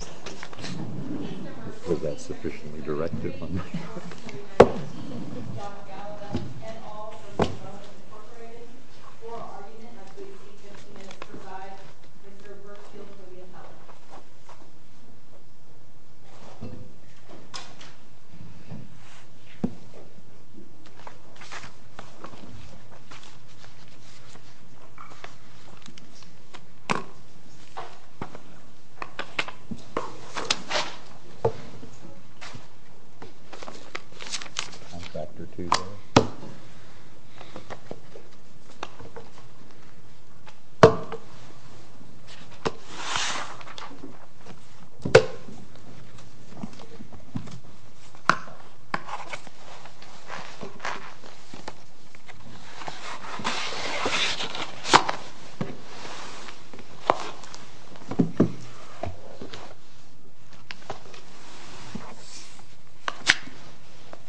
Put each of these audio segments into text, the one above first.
. T.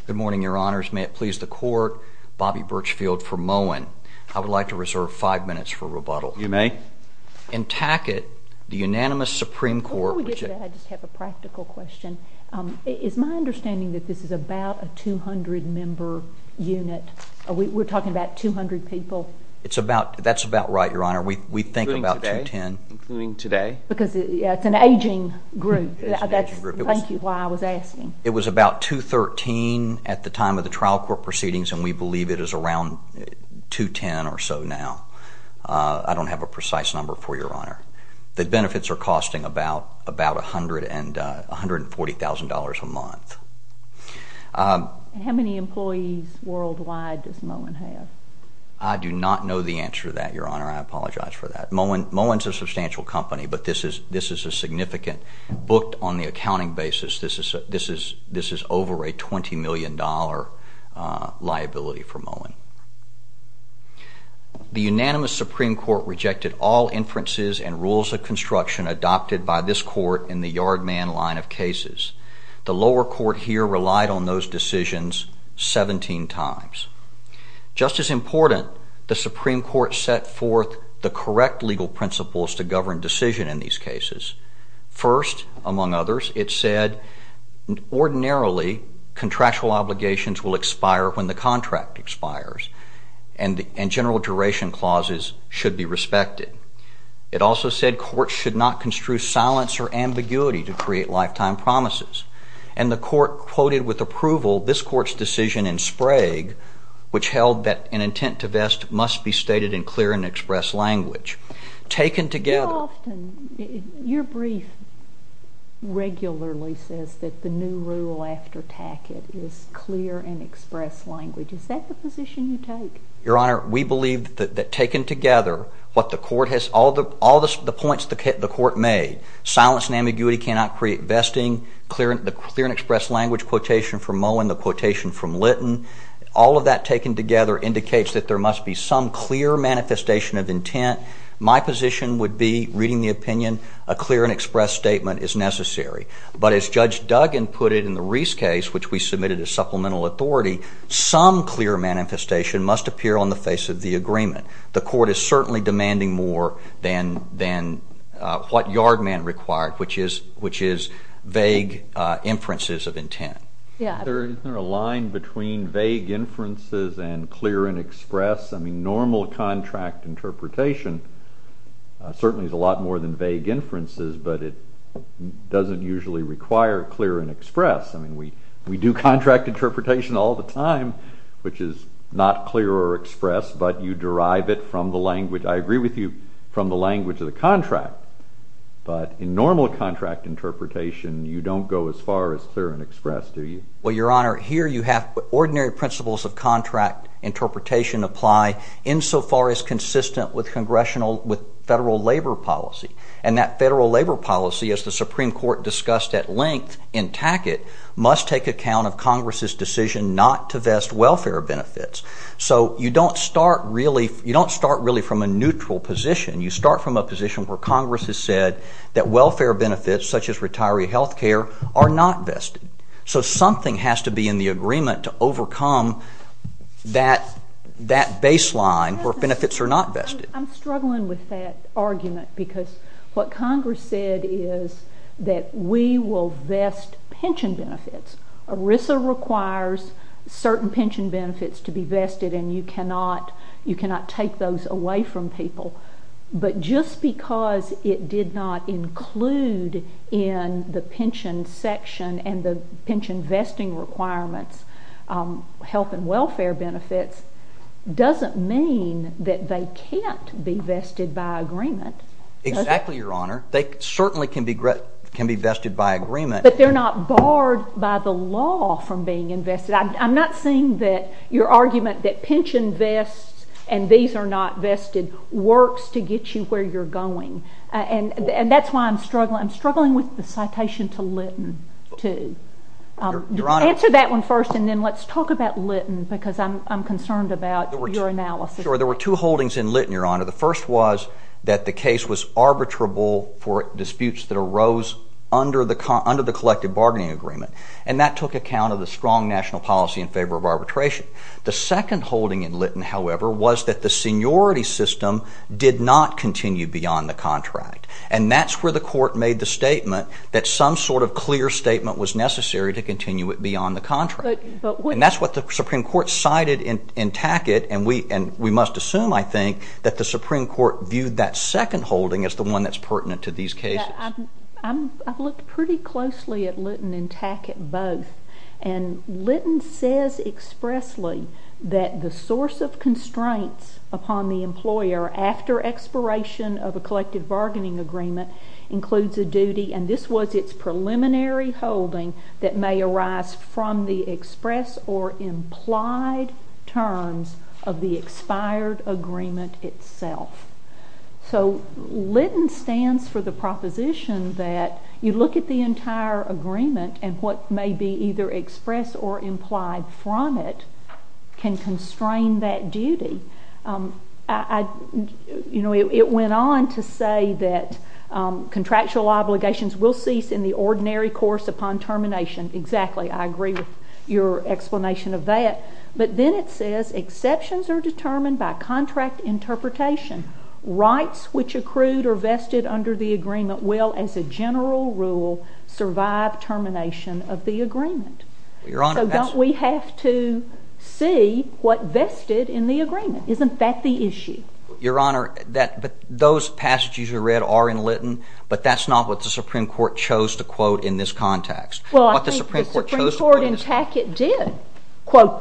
Good morning, Your Honors. May it please the Court, Bobby Birchfield for Moen. I would like to reserve five minutes for rebuttal. You may. In Tackett, the unanimous Supreme Court rejects... Before we get to that, I just have a practical question. Is my understanding that this is about a 200-member unit? We're talking about 200 people? That's about right, Your Honor. We think about 210. Including today? Because it's an aging group. That's why I was asking. It was about 213 at the time of the trial court proceedings, and we believe it is around 210 or so now. I don't have a precise number for you, Your Honor. The benefits are costing about $140,000 a month. How many employees worldwide does Moen have? I do not know the answer to that, Your Honor. I apologize for that. Moen is a substantial company, but this is a significant... Booked on the accounting basis, this is over a $20 million liability for Moen. The unanimous Supreme Court rejected all inferences and rules of construction adopted by this Court in the Yard Man line of cases. The lower court here relied on those decisions 17 times. Just as important, the Supreme Court set forth the correct legal principles to govern decision in these cases. First, among others, it said ordinarily contractual obligations will expire when the contract expires, and general duration clauses should be respected. It also said courts should not construe silence or ambiguity to create lifetime promises. And the Court quoted with approval this Court's decision in Sprague, which held that an intent to vest must be stated in clear and express language. Taken together... You often... your brief regularly says that the new rule after Tackett is clear and express language. Is that the position you take? Your Honor, we believe that taken together, what the Court has... all the points the Court made, silence and ambiguity cannot create vesting, the clear and express language quotation from Mowen, the quotation from Lytton, all of that taken together indicates that there must be some clear manifestation of intent. My position would be, reading the opinion, a clear and express statement is necessary. But as Judge Duggan put it in the Reese case, which we submitted as supplemental authority, some clear manifestation must appear on the face of the agreement. The Court is certainly demanding more than what Yard Man required, which is vague inferences of intent. Isn't there a line between vague inferences and clear and express? I mean, normal contract interpretation certainly is a lot more than vague inferences, but it doesn't usually require clear and express. I mean, we do contract interpretation all the time, which is not clear or express, but you derive it from the language, I agree with you, from the language of the contract. But in normal contract interpretation, you don't go as far as clear and express do you? Well, Your Honor, here you have ordinary principles of contract interpretation apply insofar as consistent with congressional, with federal labor policy. And that federal labor policy, as the Supreme Court discussed at length in Tackett, must take account of Congress's decision not to vest welfare benefits. So you don't start really from a neutral position. You start from a position where Congress has said that welfare benefits, such as retiree health care, are not vested. So something has to be in the agreement to overcome that baseline where benefits are not vested. I'm struggling with that argument, because what Congress said is that we will vest pension benefits. ERISA requires certain pension benefits to be vested, and you cannot take those away from people. But just because it did not include in the pension section and the pension vesting requirements health and welfare benefits doesn't mean that they can't be vested by agreement. Exactly, Your Honor. They certainly can be vested by agreement. But they're not barred by the law from being invested. I'm not seeing that your argument that pension vests and these are not vested works to get you where you're going. And that's why I'm struggling. I'm struggling with the citation to Litton, too. Answer that one first, and then let's talk about Litton, because I'm concerned about your analysis. Sure. There were two holdings in Litton, Your Honor. The first was that the case was arbitrable for disputes that arose under the collective bargaining agreement. And that took account of the strong national policy in favor of arbitration. The second holding in Litton, however, was that the seniority system did not continue beyond the contract. And that's where the court made the statement that some sort of clear statement was necessary to continue it beyond the contract. And that's what the Supreme Court cited in Tackett, and we must assume, I think, that the Supreme Court viewed that second holding as the one that's pertinent to these cases. I've looked pretty closely at Litton and Tackett both, and Litton says expressly that the source of constraints upon the employer after expiration of a collective bargaining agreement includes a duty, and this was its preliminary holding, that may arise from the express or implied terms of the expired agreement itself. So Litton stands for the proposition that you look at the entire agreement and what may be either expressed or implied from it can constrain that duty. You know, it went on to say that contractual obligations will cease in the ordinary course upon termination. Exactly, I agree with your explanation of that. But then it says exceptions are determined by contract interpretation. Rights which accrued or vested under the agreement will, as a general rule, survive termination of the agreement. So don't we have to see what vested in the agreement? Isn't that the issue? Your Honor, those passages we read are in Litton, but that's not what the Supreme Court chose to quote in this context. What the Supreme Court chose to quote is... Well, I think the Supreme Court in Tackett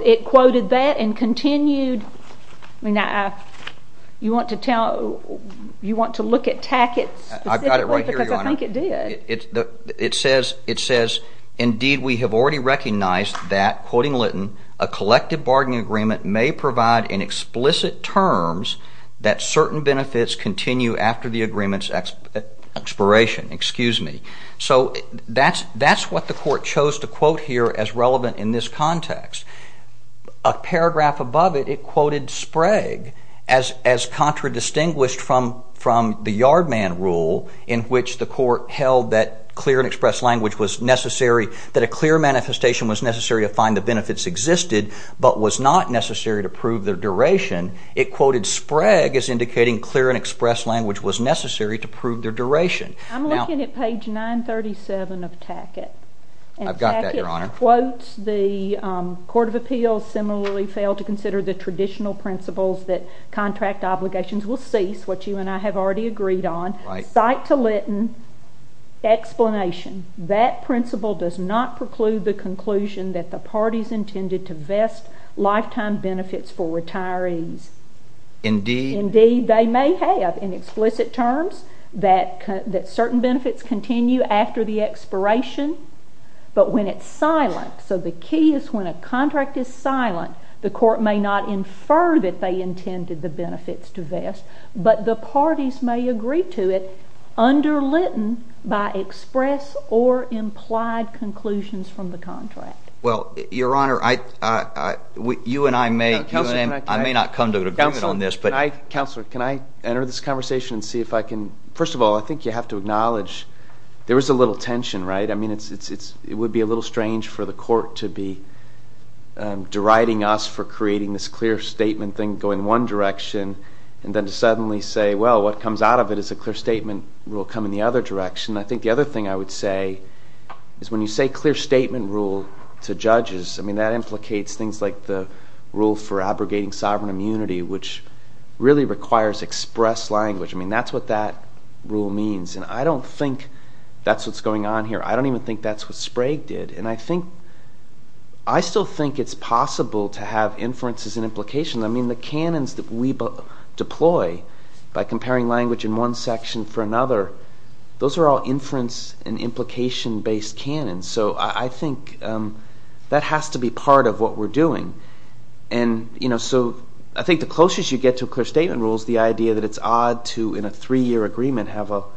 did. It quoted that and continued... You want to tell... You want to look at Tackett specifically? I've got it right here, Your Honor. Because I think it did. It says, indeed we have already recognized that, quoting Litton, a collective bargaining agreement may provide in explicit terms that certain benefits continue after the agreement's expiration. Excuse me. So that's what the court chose to quote here as relevant in this context. A paragraph above it, it quoted Sprague as contradistinguished from the Yardman rule in which the court held that clear and express language was necessary, that a clear manifestation was necessary to find the benefits existed, but was not necessary to prove their duration. It quoted Sprague as indicating clear and express language was necessary to prove their duration. I'm looking at page 937 of Tackett. I've got that, Your Honor. It quotes the Court of Appeals similarly failed to consider the traditional principles that contract obligations will cease, which you and I have already agreed on. Cite to Litton explanation. That principle does not preclude the conclusion that the parties intended to vest lifetime benefits for retirees. Indeed... Indeed, they may have in explicit terms that contract. So the key is when a contract is silent, the court may not infer that they intended the benefits to vest, but the parties may agree to it under Litton by express or implied conclusions from the contract. Well, Your Honor, you and I may... I may not come to an agreement on this, but... Counselor, can I enter this conversation and see if I can... First of all, I think you have to acknowledge there is a little tension, right? I mean, it would be a little strange for the court to be deriding us for creating this clear statement thing going one direction and then to suddenly say, well, what comes out of it is a clear statement rule coming the other direction. I think the other thing I would say is when you say clear statement rule to judges, I mean, that implicates things like the rule for abrogating sovereign immunity, which really requires express language. I mean, that's what that rule means. And I don't think that's what's going on here. I don't even think that's what Sprague did. And I think... I still think it's possible to have inferences and implications. I mean, the canons that we deploy by comparing language in one section for another, those are all inference and implication-based canons. So I think that has to be part of what we're doing. And, you know, so I think the closest you get to a clear statement rule is the idea that it's odd to, in a three-year agreement, have a clear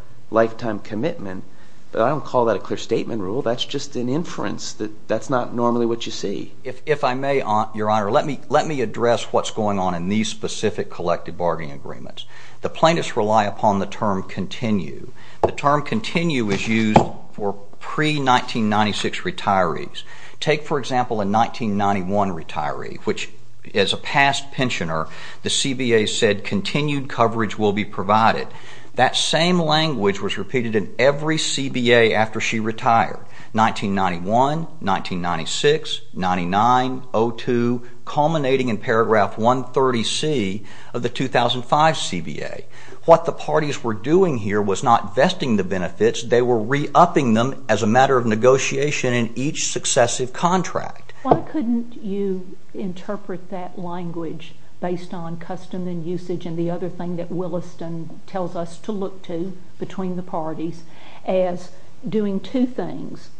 statement rule. That's just an inference. That's not normally what you see. If I may, Your Honor, let me address what's going on in these specific collective bargaining agreements. The plaintiffs rely upon the term continue. The term continue is used for pre-1996 retirees. Take, for example, a 1991 retiree, which as a past pensioner, the CBA said continued coverage will be provided. That same language was repeated in every CBA after she retired, 1991, 1996, 99, 02, culminating in paragraph 130C of the 2005 CBA. What the parties were doing here was not vesting the benefits. They were re-upping them as a matter of negotiation in each successive contract. Why couldn't you interpret that language based on custom and usage and the other thing that Williston tells us to look to between the parties as doing two things,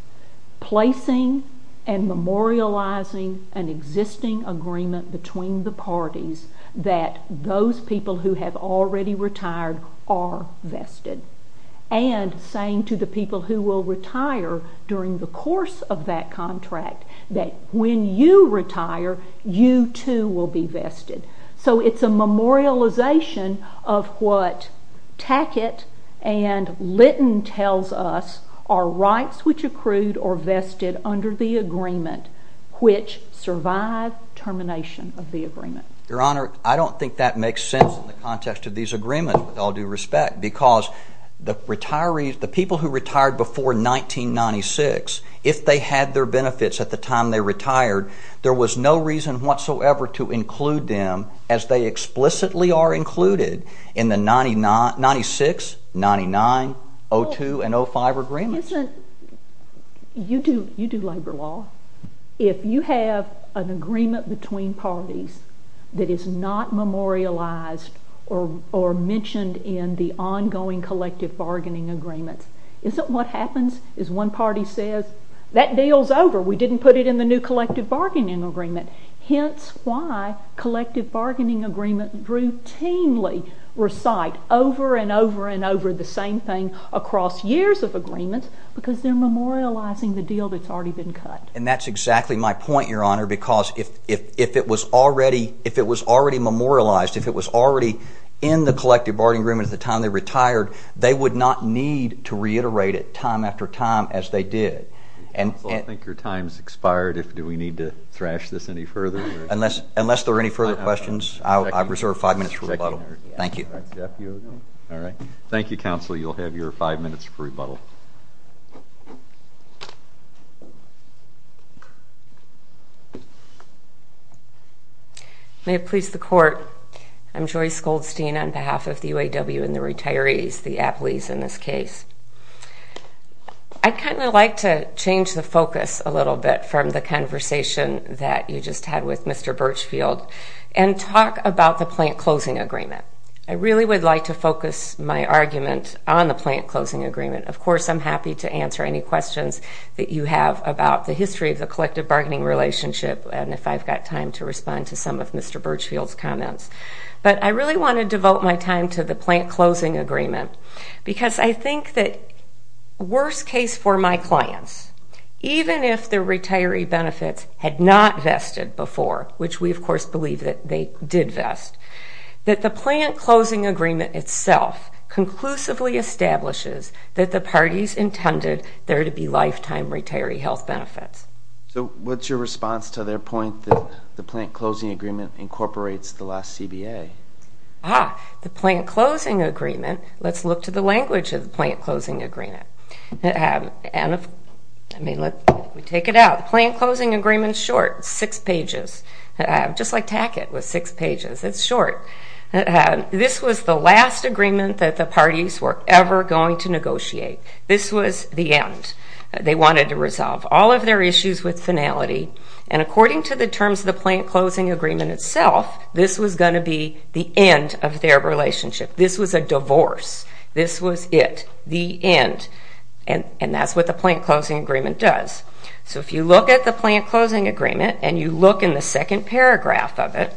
placing and memorializing an existing agreement between the parties that those people who have already retired are vested and saying to the people who will retire during the course of that contract that when you retire, you too will be vested. So it's a memorialization of what Tackett and Litton tells us are rights which accrued or vested under the agreement which survive termination of the agreement. Your Honor, I don't think that makes sense in the context of these agreements with all due respect because the retirees, the people who retired before 1996, if they had their time, they retired, there was no reason whatsoever to include them as they explicitly are included in the 1996, 99, 02, and 05 agreements. You do labor law. If you have an agreement between parties that is not memorialized or mentioned in the ongoing collective bargaining agreements, isn't what happens is one party says that deal's over. We didn't put it in the new collective bargaining agreement. Hence why collective bargaining agreements routinely recite over and over and over the same thing across years of agreements because they're memorializing the deal that's already been cut. And that's exactly my point, Your Honor, because if it was already memorialized, if it was already in the collective bargaining agreement at the time they retired, they would not need to reiterate it time after time as they did. Counsel, I think your time's expired. Do we need to thrash this any further? Unless there are any further questions, I reserve five minutes for rebuttal. Thank you. Thank you, Counsel. You'll have your five minutes for rebuttal. May it please the Court, I'm Joyce Goldstein on behalf of the UAW and the retirees, the retirees. I'd kind of like to change the focus a little bit from the conversation that you just had with Mr. Birchfield and talk about the plant closing agreement. I really would like to focus my argument on the plant closing agreement. Of course, I'm happy to answer any questions that you have about the history of the collective bargaining relationship and if I've got time to respond to some of Mr. Birchfield's comments. But I really want to devote my time to the plant closing agreement because I think that worst case for my clients, even if the retiree benefits had not vested before, which we of course believe that they did vest, that the plant closing agreement itself conclusively establishes that the parties intended there to be lifetime retiree health benefits. So what's your response to their point that the plant closing agreement incorporates the last CBA? Ah, the plant closing agreement. Let's look to the language of the plant closing agreement. I mean, let's take it out. The plant closing agreement is short. It's six pages. Just like Tack-It was six pages. It's short. This was the last agreement that the parties were ever going to negotiate. This was the end. They wanted to resolve all of their issues with was going to be the end of their relationship. This was a divorce. This was it. The end. And that's what the plant closing agreement does. So if you look at the plant closing agreement and you look in the second paragraph of it,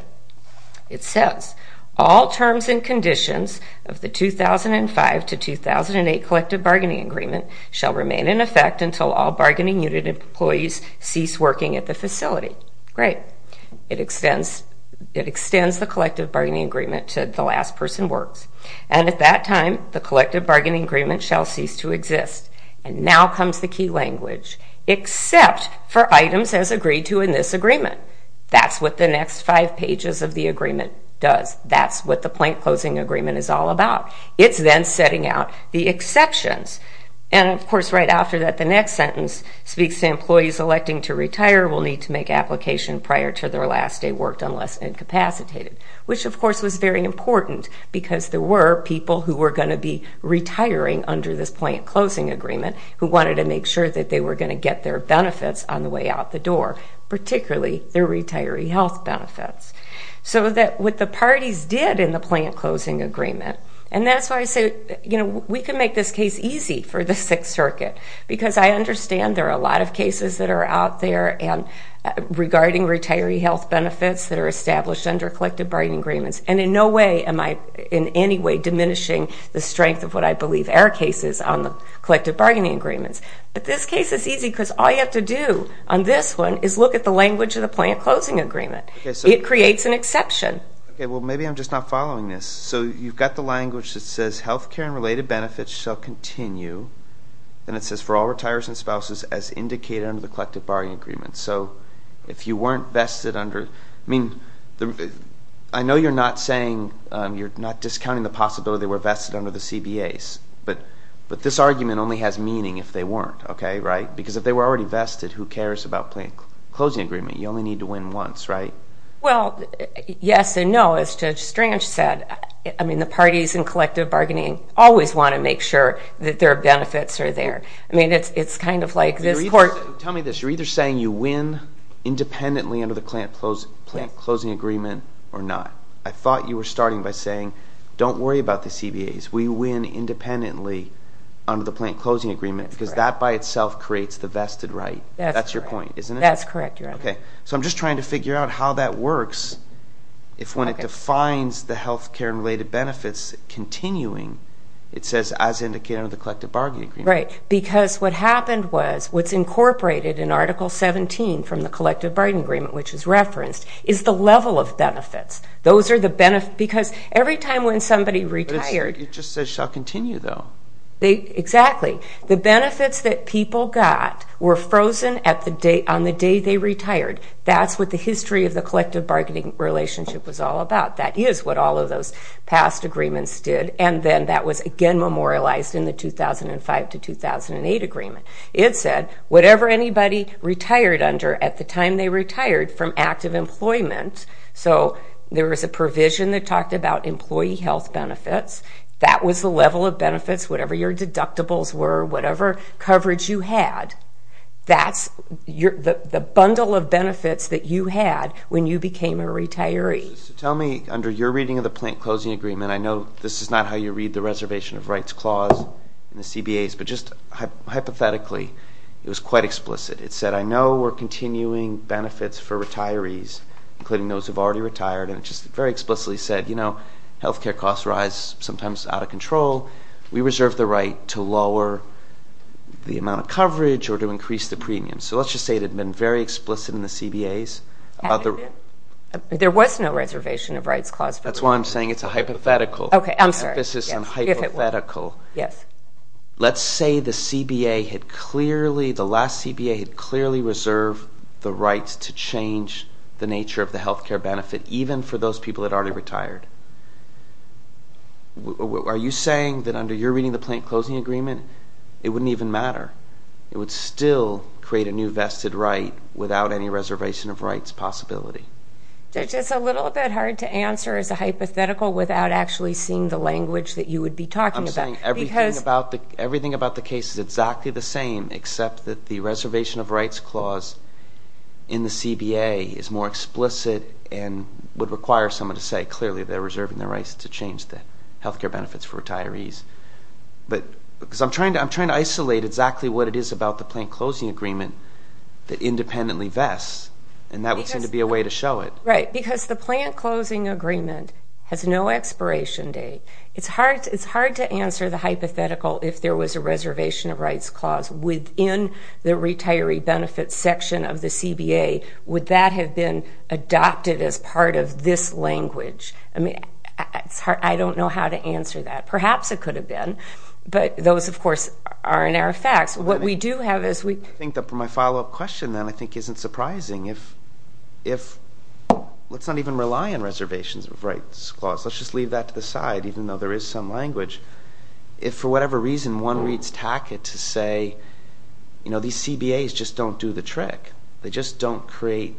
it says, all terms and conditions of the 2005 to 2008 collective bargaining agreement shall remain in effect until all bargaining unit employees cease working at the facility. Great. It extends the collective bargaining agreement to the last person works. And at that time, the collective bargaining agreement shall cease to exist. And now comes the key language. Except for items as agreed to in this agreement. That's what the next five pages of the agreement does. That's what the plant closing agreement is all about. It's then setting out the exceptions. And of course right after that, the next sentence speaks to employees electing to retire will need to make application prior to their last day worked unless incapacitated, which of course was very important because there were people who were going to be retiring under this plant closing agreement who wanted to make sure that they were going to get their benefits on the way out the door, particularly their retiree health benefits. So that what the parties did in the plant closing agreement, and that's why I say, you know, we can make this case easy for the Sixth Circuit because I understand there are a lot of cases that are out there and regarding retiree health benefits that are established under collective bargaining agreements. And in no way am I in any way diminishing the strength of what I believe are cases on the collective bargaining agreements. But this case is easy because all you have to do on this one is look at the language of the plant closing agreement. It creates an exception. Okay, well maybe I'm just not following this. So you've got the language that says health care and related benefits shall continue, and it says for all retirees and spouses as indicated under the collective bargaining agreement. So if you weren't vested under, I mean, I know you're not saying, you're not discounting the possibility they were vested under the CBAs, but this argument only has meaning if they weren't, okay, right? Because if they were already vested, who cares about the plant closing agreement? You only need to win once, right? Well, yes and no. As Judge Strange said, I think retirees and collective bargaining always want to make sure that their benefits are there. I mean, it's kind of like this court. Tell me this. You're either saying you win independently under the plant closing agreement or not. I thought you were starting by saying don't worry about the CBAs. We win independently under the plant closing agreement because that by itself creates the vested right. That's your point, isn't it? That's correct, Your Honor. Okay, so I'm just trying to figure out how that works if when it defines the health care and related benefits continuing, it says as indicated under the collective bargaining agreement. Right, because what happened was, what's incorporated in Article 17 from the collective bargaining agreement, which is referenced, is the level of benefits. Those are the benefits because every time when somebody retired... It just says shall continue, though. Exactly. The benefits that people got were frozen on the day they retired. That's what the history of the collective bargaining relationship was all about. That is what all of those past agreements did, and then that was again memorialized in the 2005 to 2008 agreement. It said whatever anybody retired under at the time they retired from active employment, so there was a provision that talked about employee health benefits. That was the level of benefits, whatever your deductibles were, whatever coverage you had. That's the bundle of benefits that you had when you became a retiree. So tell me, under your reading of the plant closing agreement, I know this is not how you read the reservation of rights clause in the CBAs, but just hypothetically, it was quite explicit. It said, I know we're continuing benefits for retirees, including those who have already retired, and it just very explicitly said, you know, health care costs rise, sometimes out of control. We reserve the right to lower the amount of coverage or to increase the premium. So let's just say it had been very explicit in the CBAs. There was no reservation of rights clause. That's why I'm saying it's a hypothetical. Okay. I'm sorry. This is a hypothetical. Yes. Let's say the CBA had clearly, the last CBA had clearly reserved the rights to change the nature of the health care benefit, even for those people that already retired. Are you saying that under your reading of the plant closing agreement, it wouldn't even matter? It would still create a new vested right without any reservation of rights possibility? It's a little bit hard to answer as a hypothetical without actually seeing the language that you would be talking about. I'm saying everything about the case is exactly the same, except that the reservation of rights clause in the CBA is more explicit and would require someone to say clearly they're reserving their rights to change the health care benefits for retirees. But because I'm trying to, I'm trying to isolate exactly what it is about the plant closing agreement that independently vests, and that would seem to be a way to show it. Right. Because the plant closing agreement has no expiration date. It's hard, it's hard to answer the hypothetical if there was a reservation of rights clause within the retiree benefits section of the CBA, would that have been adopted as part of this language? I mean, it's hard, I don't know how to answer that. Perhaps it could have been, but those, of course, are in our facts. What we do have is we... I think that for my follow-up question, then, I think isn't surprising if, if let's not even rely on reservations of rights clause. Let's just leave that to the side, even though there is some language. If for whatever reason one reads TACIT to say, you know, these CBAs just don't do the trick. They just don't create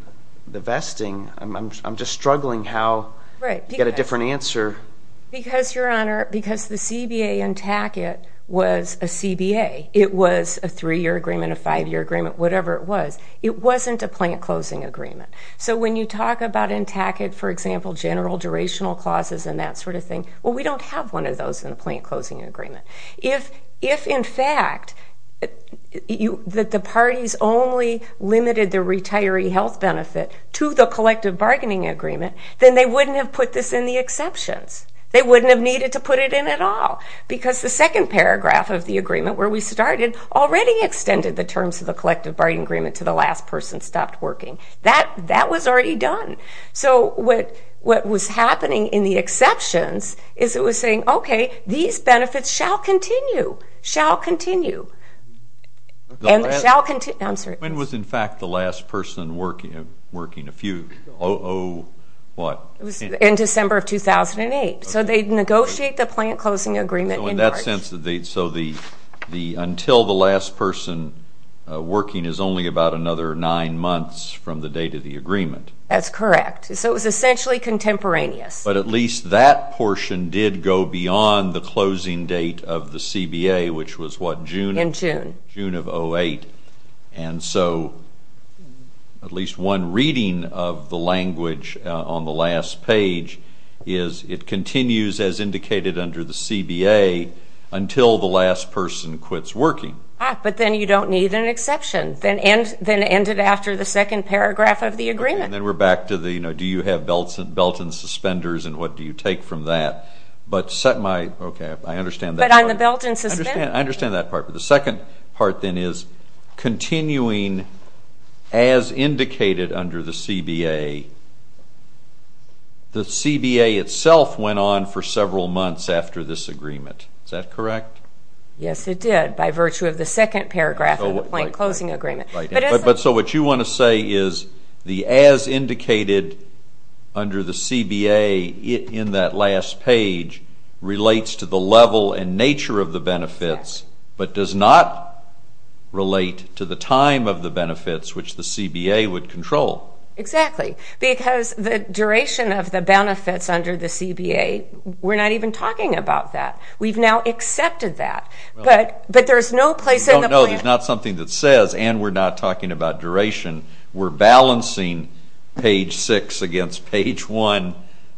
the vesting. I'm just struggling how to get a different answer. Right. Because, Your Honor, because the CBA in TACIT was a CBA. It was a three-year agreement, a five-year agreement, whatever it was. It wasn't a plant closing agreement. So when you talk about in TACIT, for example, general durational clauses and that sort of thing, well, we don't have one of those in the plant closing agreement. If, in fact, that the parties only limited the retiree health benefit to the collective bargaining agreement, then they wouldn't have put this in the exceptions. They wouldn't have needed to put it in at all. Because the second paragraph of the agreement where we started already extended the terms of the collective bargaining agreement to the last person stopped working. That was already done. So what was happening in the exceptions is it was saying, okay, these benefits shall continue, shall continue, and shall continue. I'm sorry. When was, in fact, the last person working a few? Oh, what? It was in December of 2008. So they'd negotiate the plant closing agreement. So in that sense, so until the last person working is only about another nine months from the date of the agreement. That's correct. So it was essentially contemporaneous. But at least that portion did go beyond the closing date of the CBA, which was what, June? In June. June of 2008. And so at least one reading of the language on the last page is it continues as indicated under the CBA until the last person quits working. Ah, but then you don't need an exception. Then it ended after the second paragraph of the agreement. And then we're back to the, you know, do you have belts and suspenders and what do you take from that? But my, okay, I understand that. But on the belt and suspenders? I understand that part, but the second part then is continuing as indicated under the CBA. The CBA itself went on for several months after this agreement. Is that what you want to say is the as indicated under the CBA in that last page relates to the level and nature of the benefits, but does not relate to the time of the benefits which the CBA would control? Exactly. Because the duration of the benefits under the CBA, we're not even talking about that. We've now accepted that. But there's no place in the plan. No, there's not something that says, and we're not talking about duration, we're balancing page six against page one.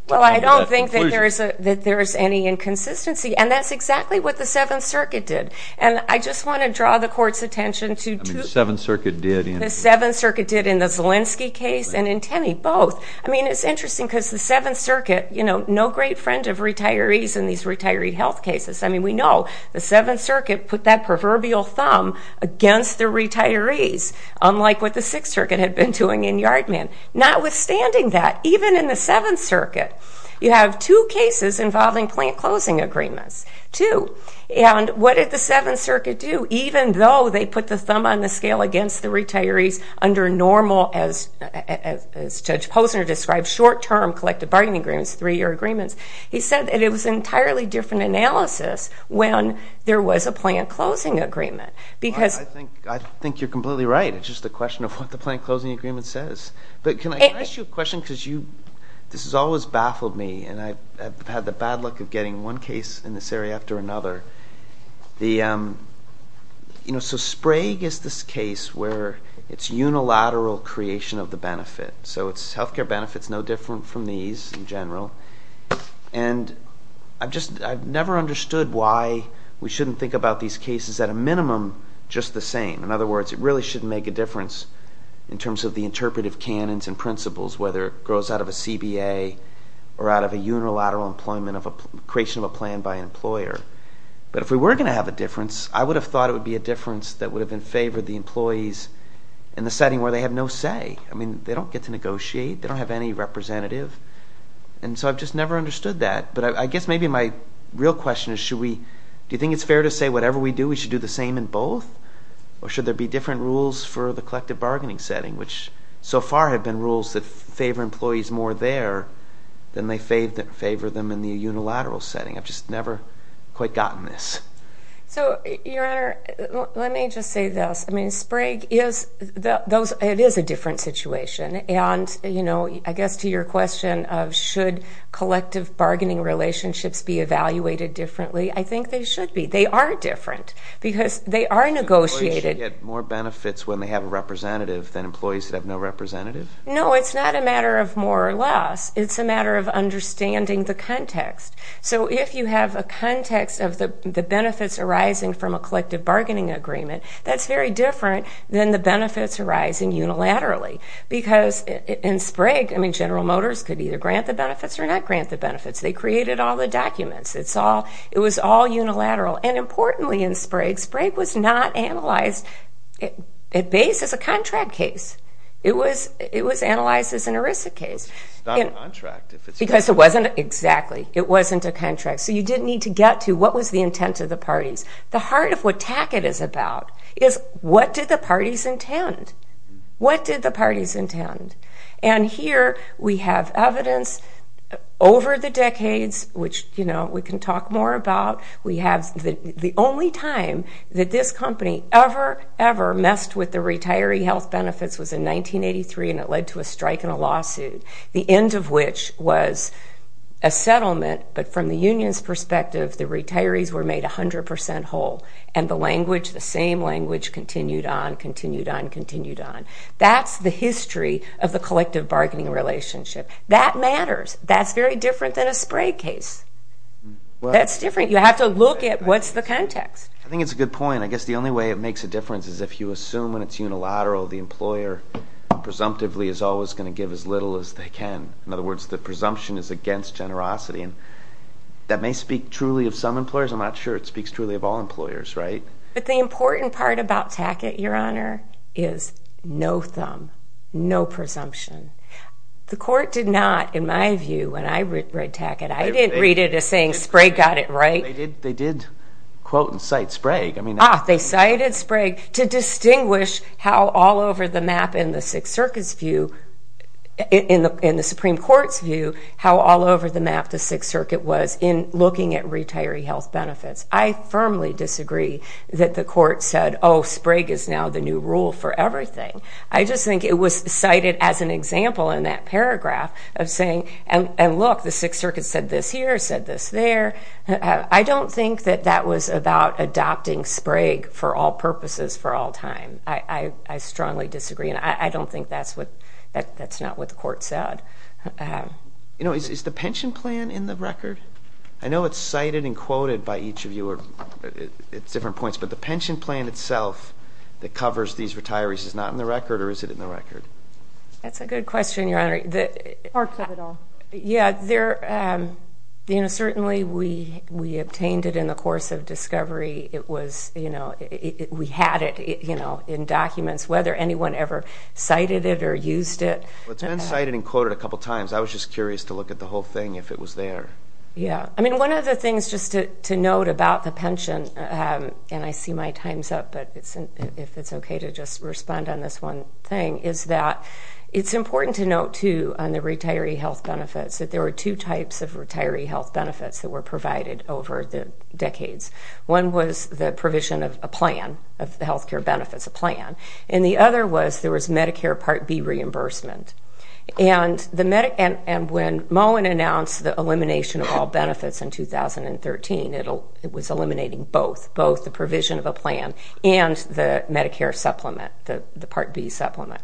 Well, I don't think that there is a, that there is any inconsistency. And that's exactly what the Seventh Circuit did. And I just want to draw the court's attention to. I mean, the Seventh Circuit did. The Seventh Circuit did in the Zielinski case and in Tenney, both. I mean, it's interesting because the Seventh Circuit, you know, no great friend of retirees in these retiree health cases. I mean, we know the Seventh Circuit put that proverbial thumb against the retirees, unlike what the Sixth Circuit had been doing in Yardman. Notwithstanding that, even in the Seventh Circuit, you have two cases involving plant closing agreements, two. And what did the Seventh Circuit do? Even though they put the thumb on the scale against the retirees under normal, as Judge Posner described, short-term collective bargaining agreements, three-year agreements, he said that it was entirely different analysis when there was a plant closing agreement. Because... I think you're completely right. It's just a question of what the plant closing agreement says. But can I ask you a question? Because you, this has always baffled me. And I've had the bad luck of getting one case in this area after another. The, you know, so Sprague is this case where it's unilateral creation of the benefit. So it's healthcare benefits, no different from these in general. And I've just, I've never understood why we shouldn't think about these cases at a minimum just the same. In other words, it really shouldn't make a difference in terms of the interpretive canons and principles, whether it grows out of a CBA or out of a unilateral employment of a creation of a plan by an employer. But if we were going to have a difference, I would have thought it would be a difference that would have been favored the employees in the setting where they have no say. I mean, they don't get to negotiate. They don't have any representative. And so I've just never understood that. But I guess maybe my real question is, should we, do you think it's fair to say whatever we do, we should do the same in both? Or should there be different rules for the collective bargaining setting, which so far have been rules that favor employees more there than they favor them in the unilateral setting. I've just never quite gotten this. So, Your Honor, let me just say this. I mean, Sprague is, it is a different situation. And, you know, I guess to your question of should collective bargaining relationships be evaluated differently, I think they should be. They are different because they are negotiated. Employees should get more benefits when they have a representative than employees that have no representative? No, it's not a matter of more or less. It's a matter of understanding the context. So if you have a context of the benefits arising from a collective bargaining agreement, that's different than the benefits arising unilaterally. Because in Sprague, I mean, General Motors could either grant the benefits or not grant the benefits. They created all the documents. It's all, it was all unilateral. And importantly in Sprague, Sprague was not analyzed at base as a contract case. It was, it was analyzed as an ERISA case. It's not a contract. Because it wasn't, exactly, it wasn't a contract. So you didn't need to get to what was the intent of the parties. The heart of what TAC-IT is about is what did the parties intend? What did the parties intend? And here we have evidence over the decades, which, you know, we can talk more about. We have the only time that this company ever, ever messed with the retiree health benefits was in 1983. And it led to a strike and a lawsuit. The end of which was a settlement. But from the union's perspective, the retirees were made a language, the same language continued on, continued on, continued on. That's the history of the collective bargaining relationship. That matters. That's very different than a Sprague case. That's different. You have to look at what's the context. I think it's a good point. I guess the only way it makes a difference is if you assume when it's unilateral, the employer presumptively is always going to give as little as they can. In other words, the presumption is against generosity. And may speak truly of some employers. I'm not sure it speaks truly of all employers, right? But the important part about TAC-IT, your honor, is no thumb, no presumption. The court did not, in my view, when I read TAC-IT, I didn't read it as saying Sprague got it right. They did quote and cite Sprague. I mean, ah, they cited Sprague to distinguish how all over the map in the Sixth Circuit was in looking at retiree health benefits. I firmly disagree that the court said, oh, Sprague is now the new rule for everything. I just think it was cited as an example in that paragraph of saying, and look, the Sixth Circuit said this here, said this there. I don't think that that was about adopting Sprague for all purposes for all time. I strongly disagree. And I don't know, is the pension plan in the record? I know it's cited and quoted by each of you at different points, but the pension plan itself that covers these retirees is not in the record or is it in the record? That's a good question, your honor. Parts of it all. Yeah, there, you know, certainly we obtained it in the course of discovery. It was, you know, we had it, you know, in documents, whether anyone ever cited it or used it. It's been cited and quoted a couple times. I was just curious to look at the whole thing if it was there. Yeah, I mean, one of the things just to note about the pension, and I see my time's up, but if it's okay to just respond on this one thing, is that it's important to note, too, on the retiree health benefits that there were two types of retiree health benefits that were provided over the decades. One was the provision of a plan of health care benefits, a plan, and the other was there was Medicare Part B reimbursement. And the Moen announced the elimination of all benefits in 2013. It was eliminating both, both the provision of a plan and the Medicare supplement, the Part B supplement.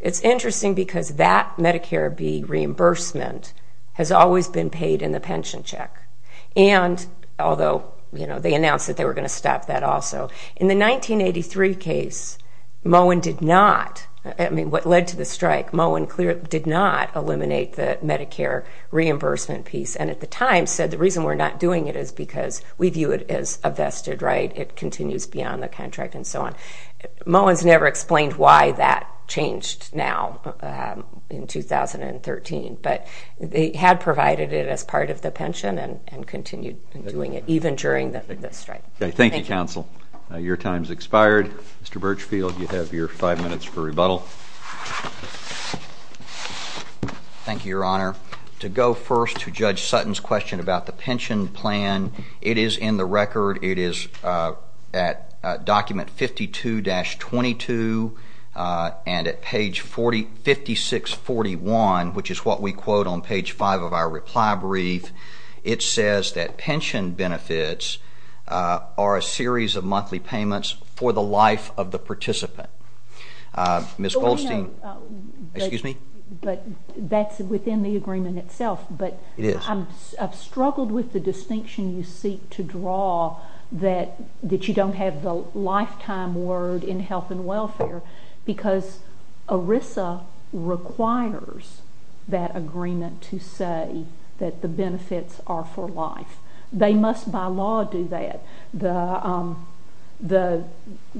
It's interesting because that Medicare B reimbursement has always been paid in the pension check, and although, you know, they announced that they were going to stop that also. In the 1983 case, Moen did not, I mean, what reimbursement piece, and at the time said the reason we're not doing it is because we view it as a vested right, it continues beyond the contract and so on. Moen's never explained why that changed now in 2013, but they had provided it as part of the pension and continued doing it even during the strike. Okay, thank you, counsel. Your time's expired. Mr. Birchfield, you have your five minutes for to go first to Judge Sutton's question about the pension plan. It is in the record, it is at document 52-22, and at page 5641, which is what we quote on page five of our reply brief, it says that pension benefits are a series of monthly payments for the life of the participant. Uh, Ms. Goldstein, excuse me, but that's within the agreement itself, but it is. I've struggled with the distinction you seek to draw that that you don't have the lifetime word in health and welfare because ERISA requires that agreement to say that the benefits are for life. They must, by law, do that. The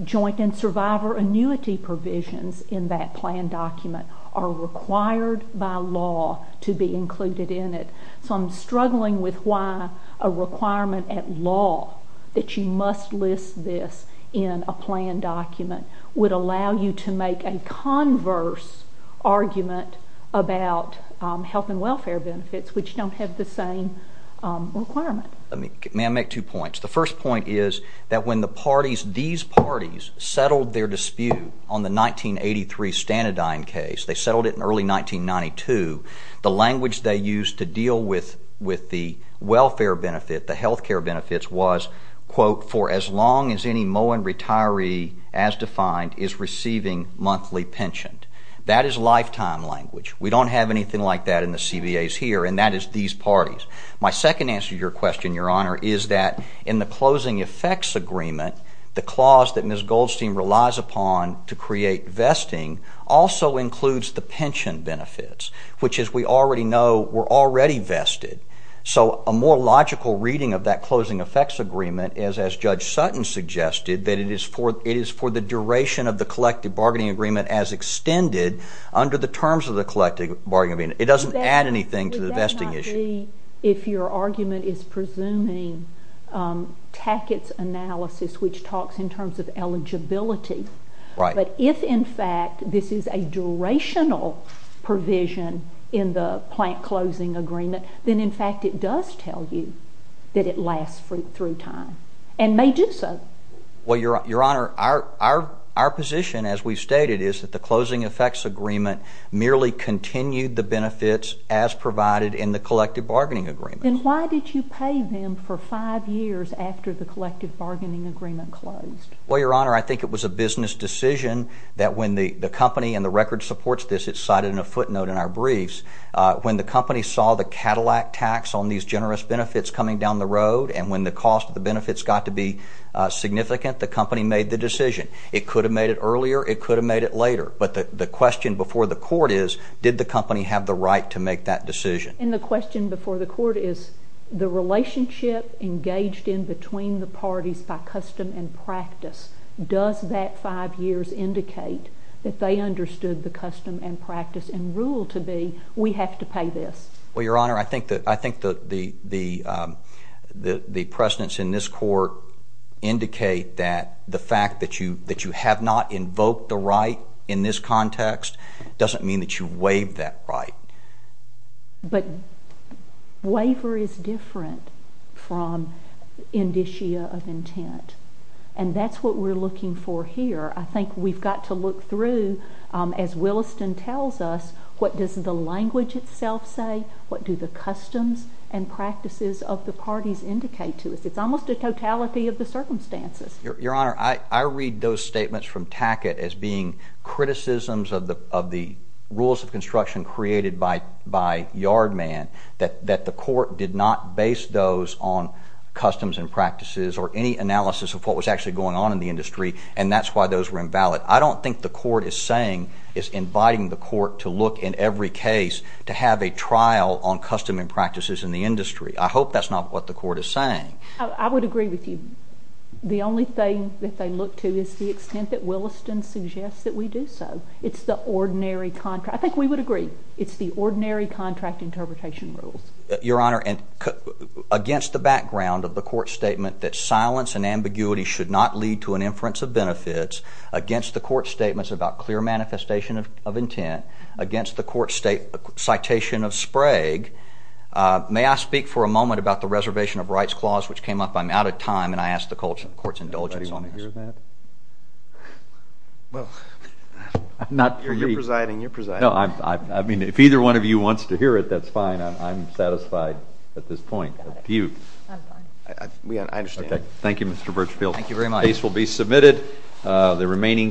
joint and survivor annuity provisions in that plan document are required by law to be included in it, so I'm struggling with why a requirement at law that you must list this in a plan document would allow you to make a converse argument about health and welfare benefits, which don't have the same requirement. May I make two points? The first point is that when the parties, these parties, settled their dispute on the 1983 Stanadyne case, they settled it in early 1992, the language they used to deal with the welfare benefit, the health care benefits was, quote, for as long as any Moen retiree, as defined, is receiving monthly pension. That is lifetime language. We don't have anything like that in the CBAs here, and that is these parties. My second answer to your question, Your Honor, is that in the closing effects agreement, the clause that Ms. Goldstein relies upon to create vesting also includes the pension benefits, which, as we already know, were already vested, so a more logical reading of that closing effects agreement is, as Judge Sutton suggested, that it is for the duration of the collective bargaining agreement as extended under the terms of the collective bargaining agreement. It doesn't add anything to the vesting issue. Would that not be if your argument is presuming Tackett's analysis, which talks in terms of eligibility, but if, in fact, this is a durational provision in the plant closing agreement, then, in fact, it does tell you that it lasts through time and may do so. Well, Your Honor, our position, as we've stated, is that the closing effects agreement merely continued the benefits as provided in the collective bargaining agreement. Then why did you pay them for five years after the collective bargaining agreement closed? Well, Your Honor, I think it was a business decision that when the company and the record supports this, it's cited in a footnote in our briefs, when the company saw the Cadillac tax on these generous benefits coming down the road and when the cost of the benefits got to be significant, the company made the decision. It could have made it earlier, it could have made it later, but the question before the court is, did the company have the right to make that decision? And the question before the court is, the relationship engaged in between the parties by custom and practice, does that five years indicate that they understood the custom and practice and rule to be, we have to pay this? Well, Your Honor, I think the precedents in this court indicate that the fact that you have not invoked the right in this context doesn't mean that you waive that right. But waiver is different from indicia of intent, and that's what we're looking for here. I think we've got to look through, as Williston tells us, what does the language itself say? What do the customs and practices of the parties indicate to us? It's almost a totality of the circumstances. Your Honor, I read those statements from Tackett as being criticisms of the rules of construction created by Yard Man, that the court did not base those on customs and practices or any analysis of what was actually going on in the industry, and that's why those were invalid. I don't think the court is saying, is inviting the court to look in every case to have a trial on custom and practices in the industry. I hope that's not what the court is saying. I would agree with you. The only thing that they look to is the extent that Williston suggests that we do so. It's the ordinary contract. I think we would agree. It's the ordinary contract interpretation rules. Your Honor, against the background of the court statement that silence and ambiguity should not lead to an inference of benefits, against the court statements about clear manifestation of intent, against the court citation of Sprague, may I speak for a moment about the reservation of rights clause, which came up? I'm out of time, and I ask the court's indulgence on this. Well, you're presiding. You're presiding. I mean, if either one of you wants to hear it, that's fine. I'm satisfied at this point. I'm fine. I understand. Thank you, Mr. Birchfield. Thank you very much. The case will be submitted. The remaining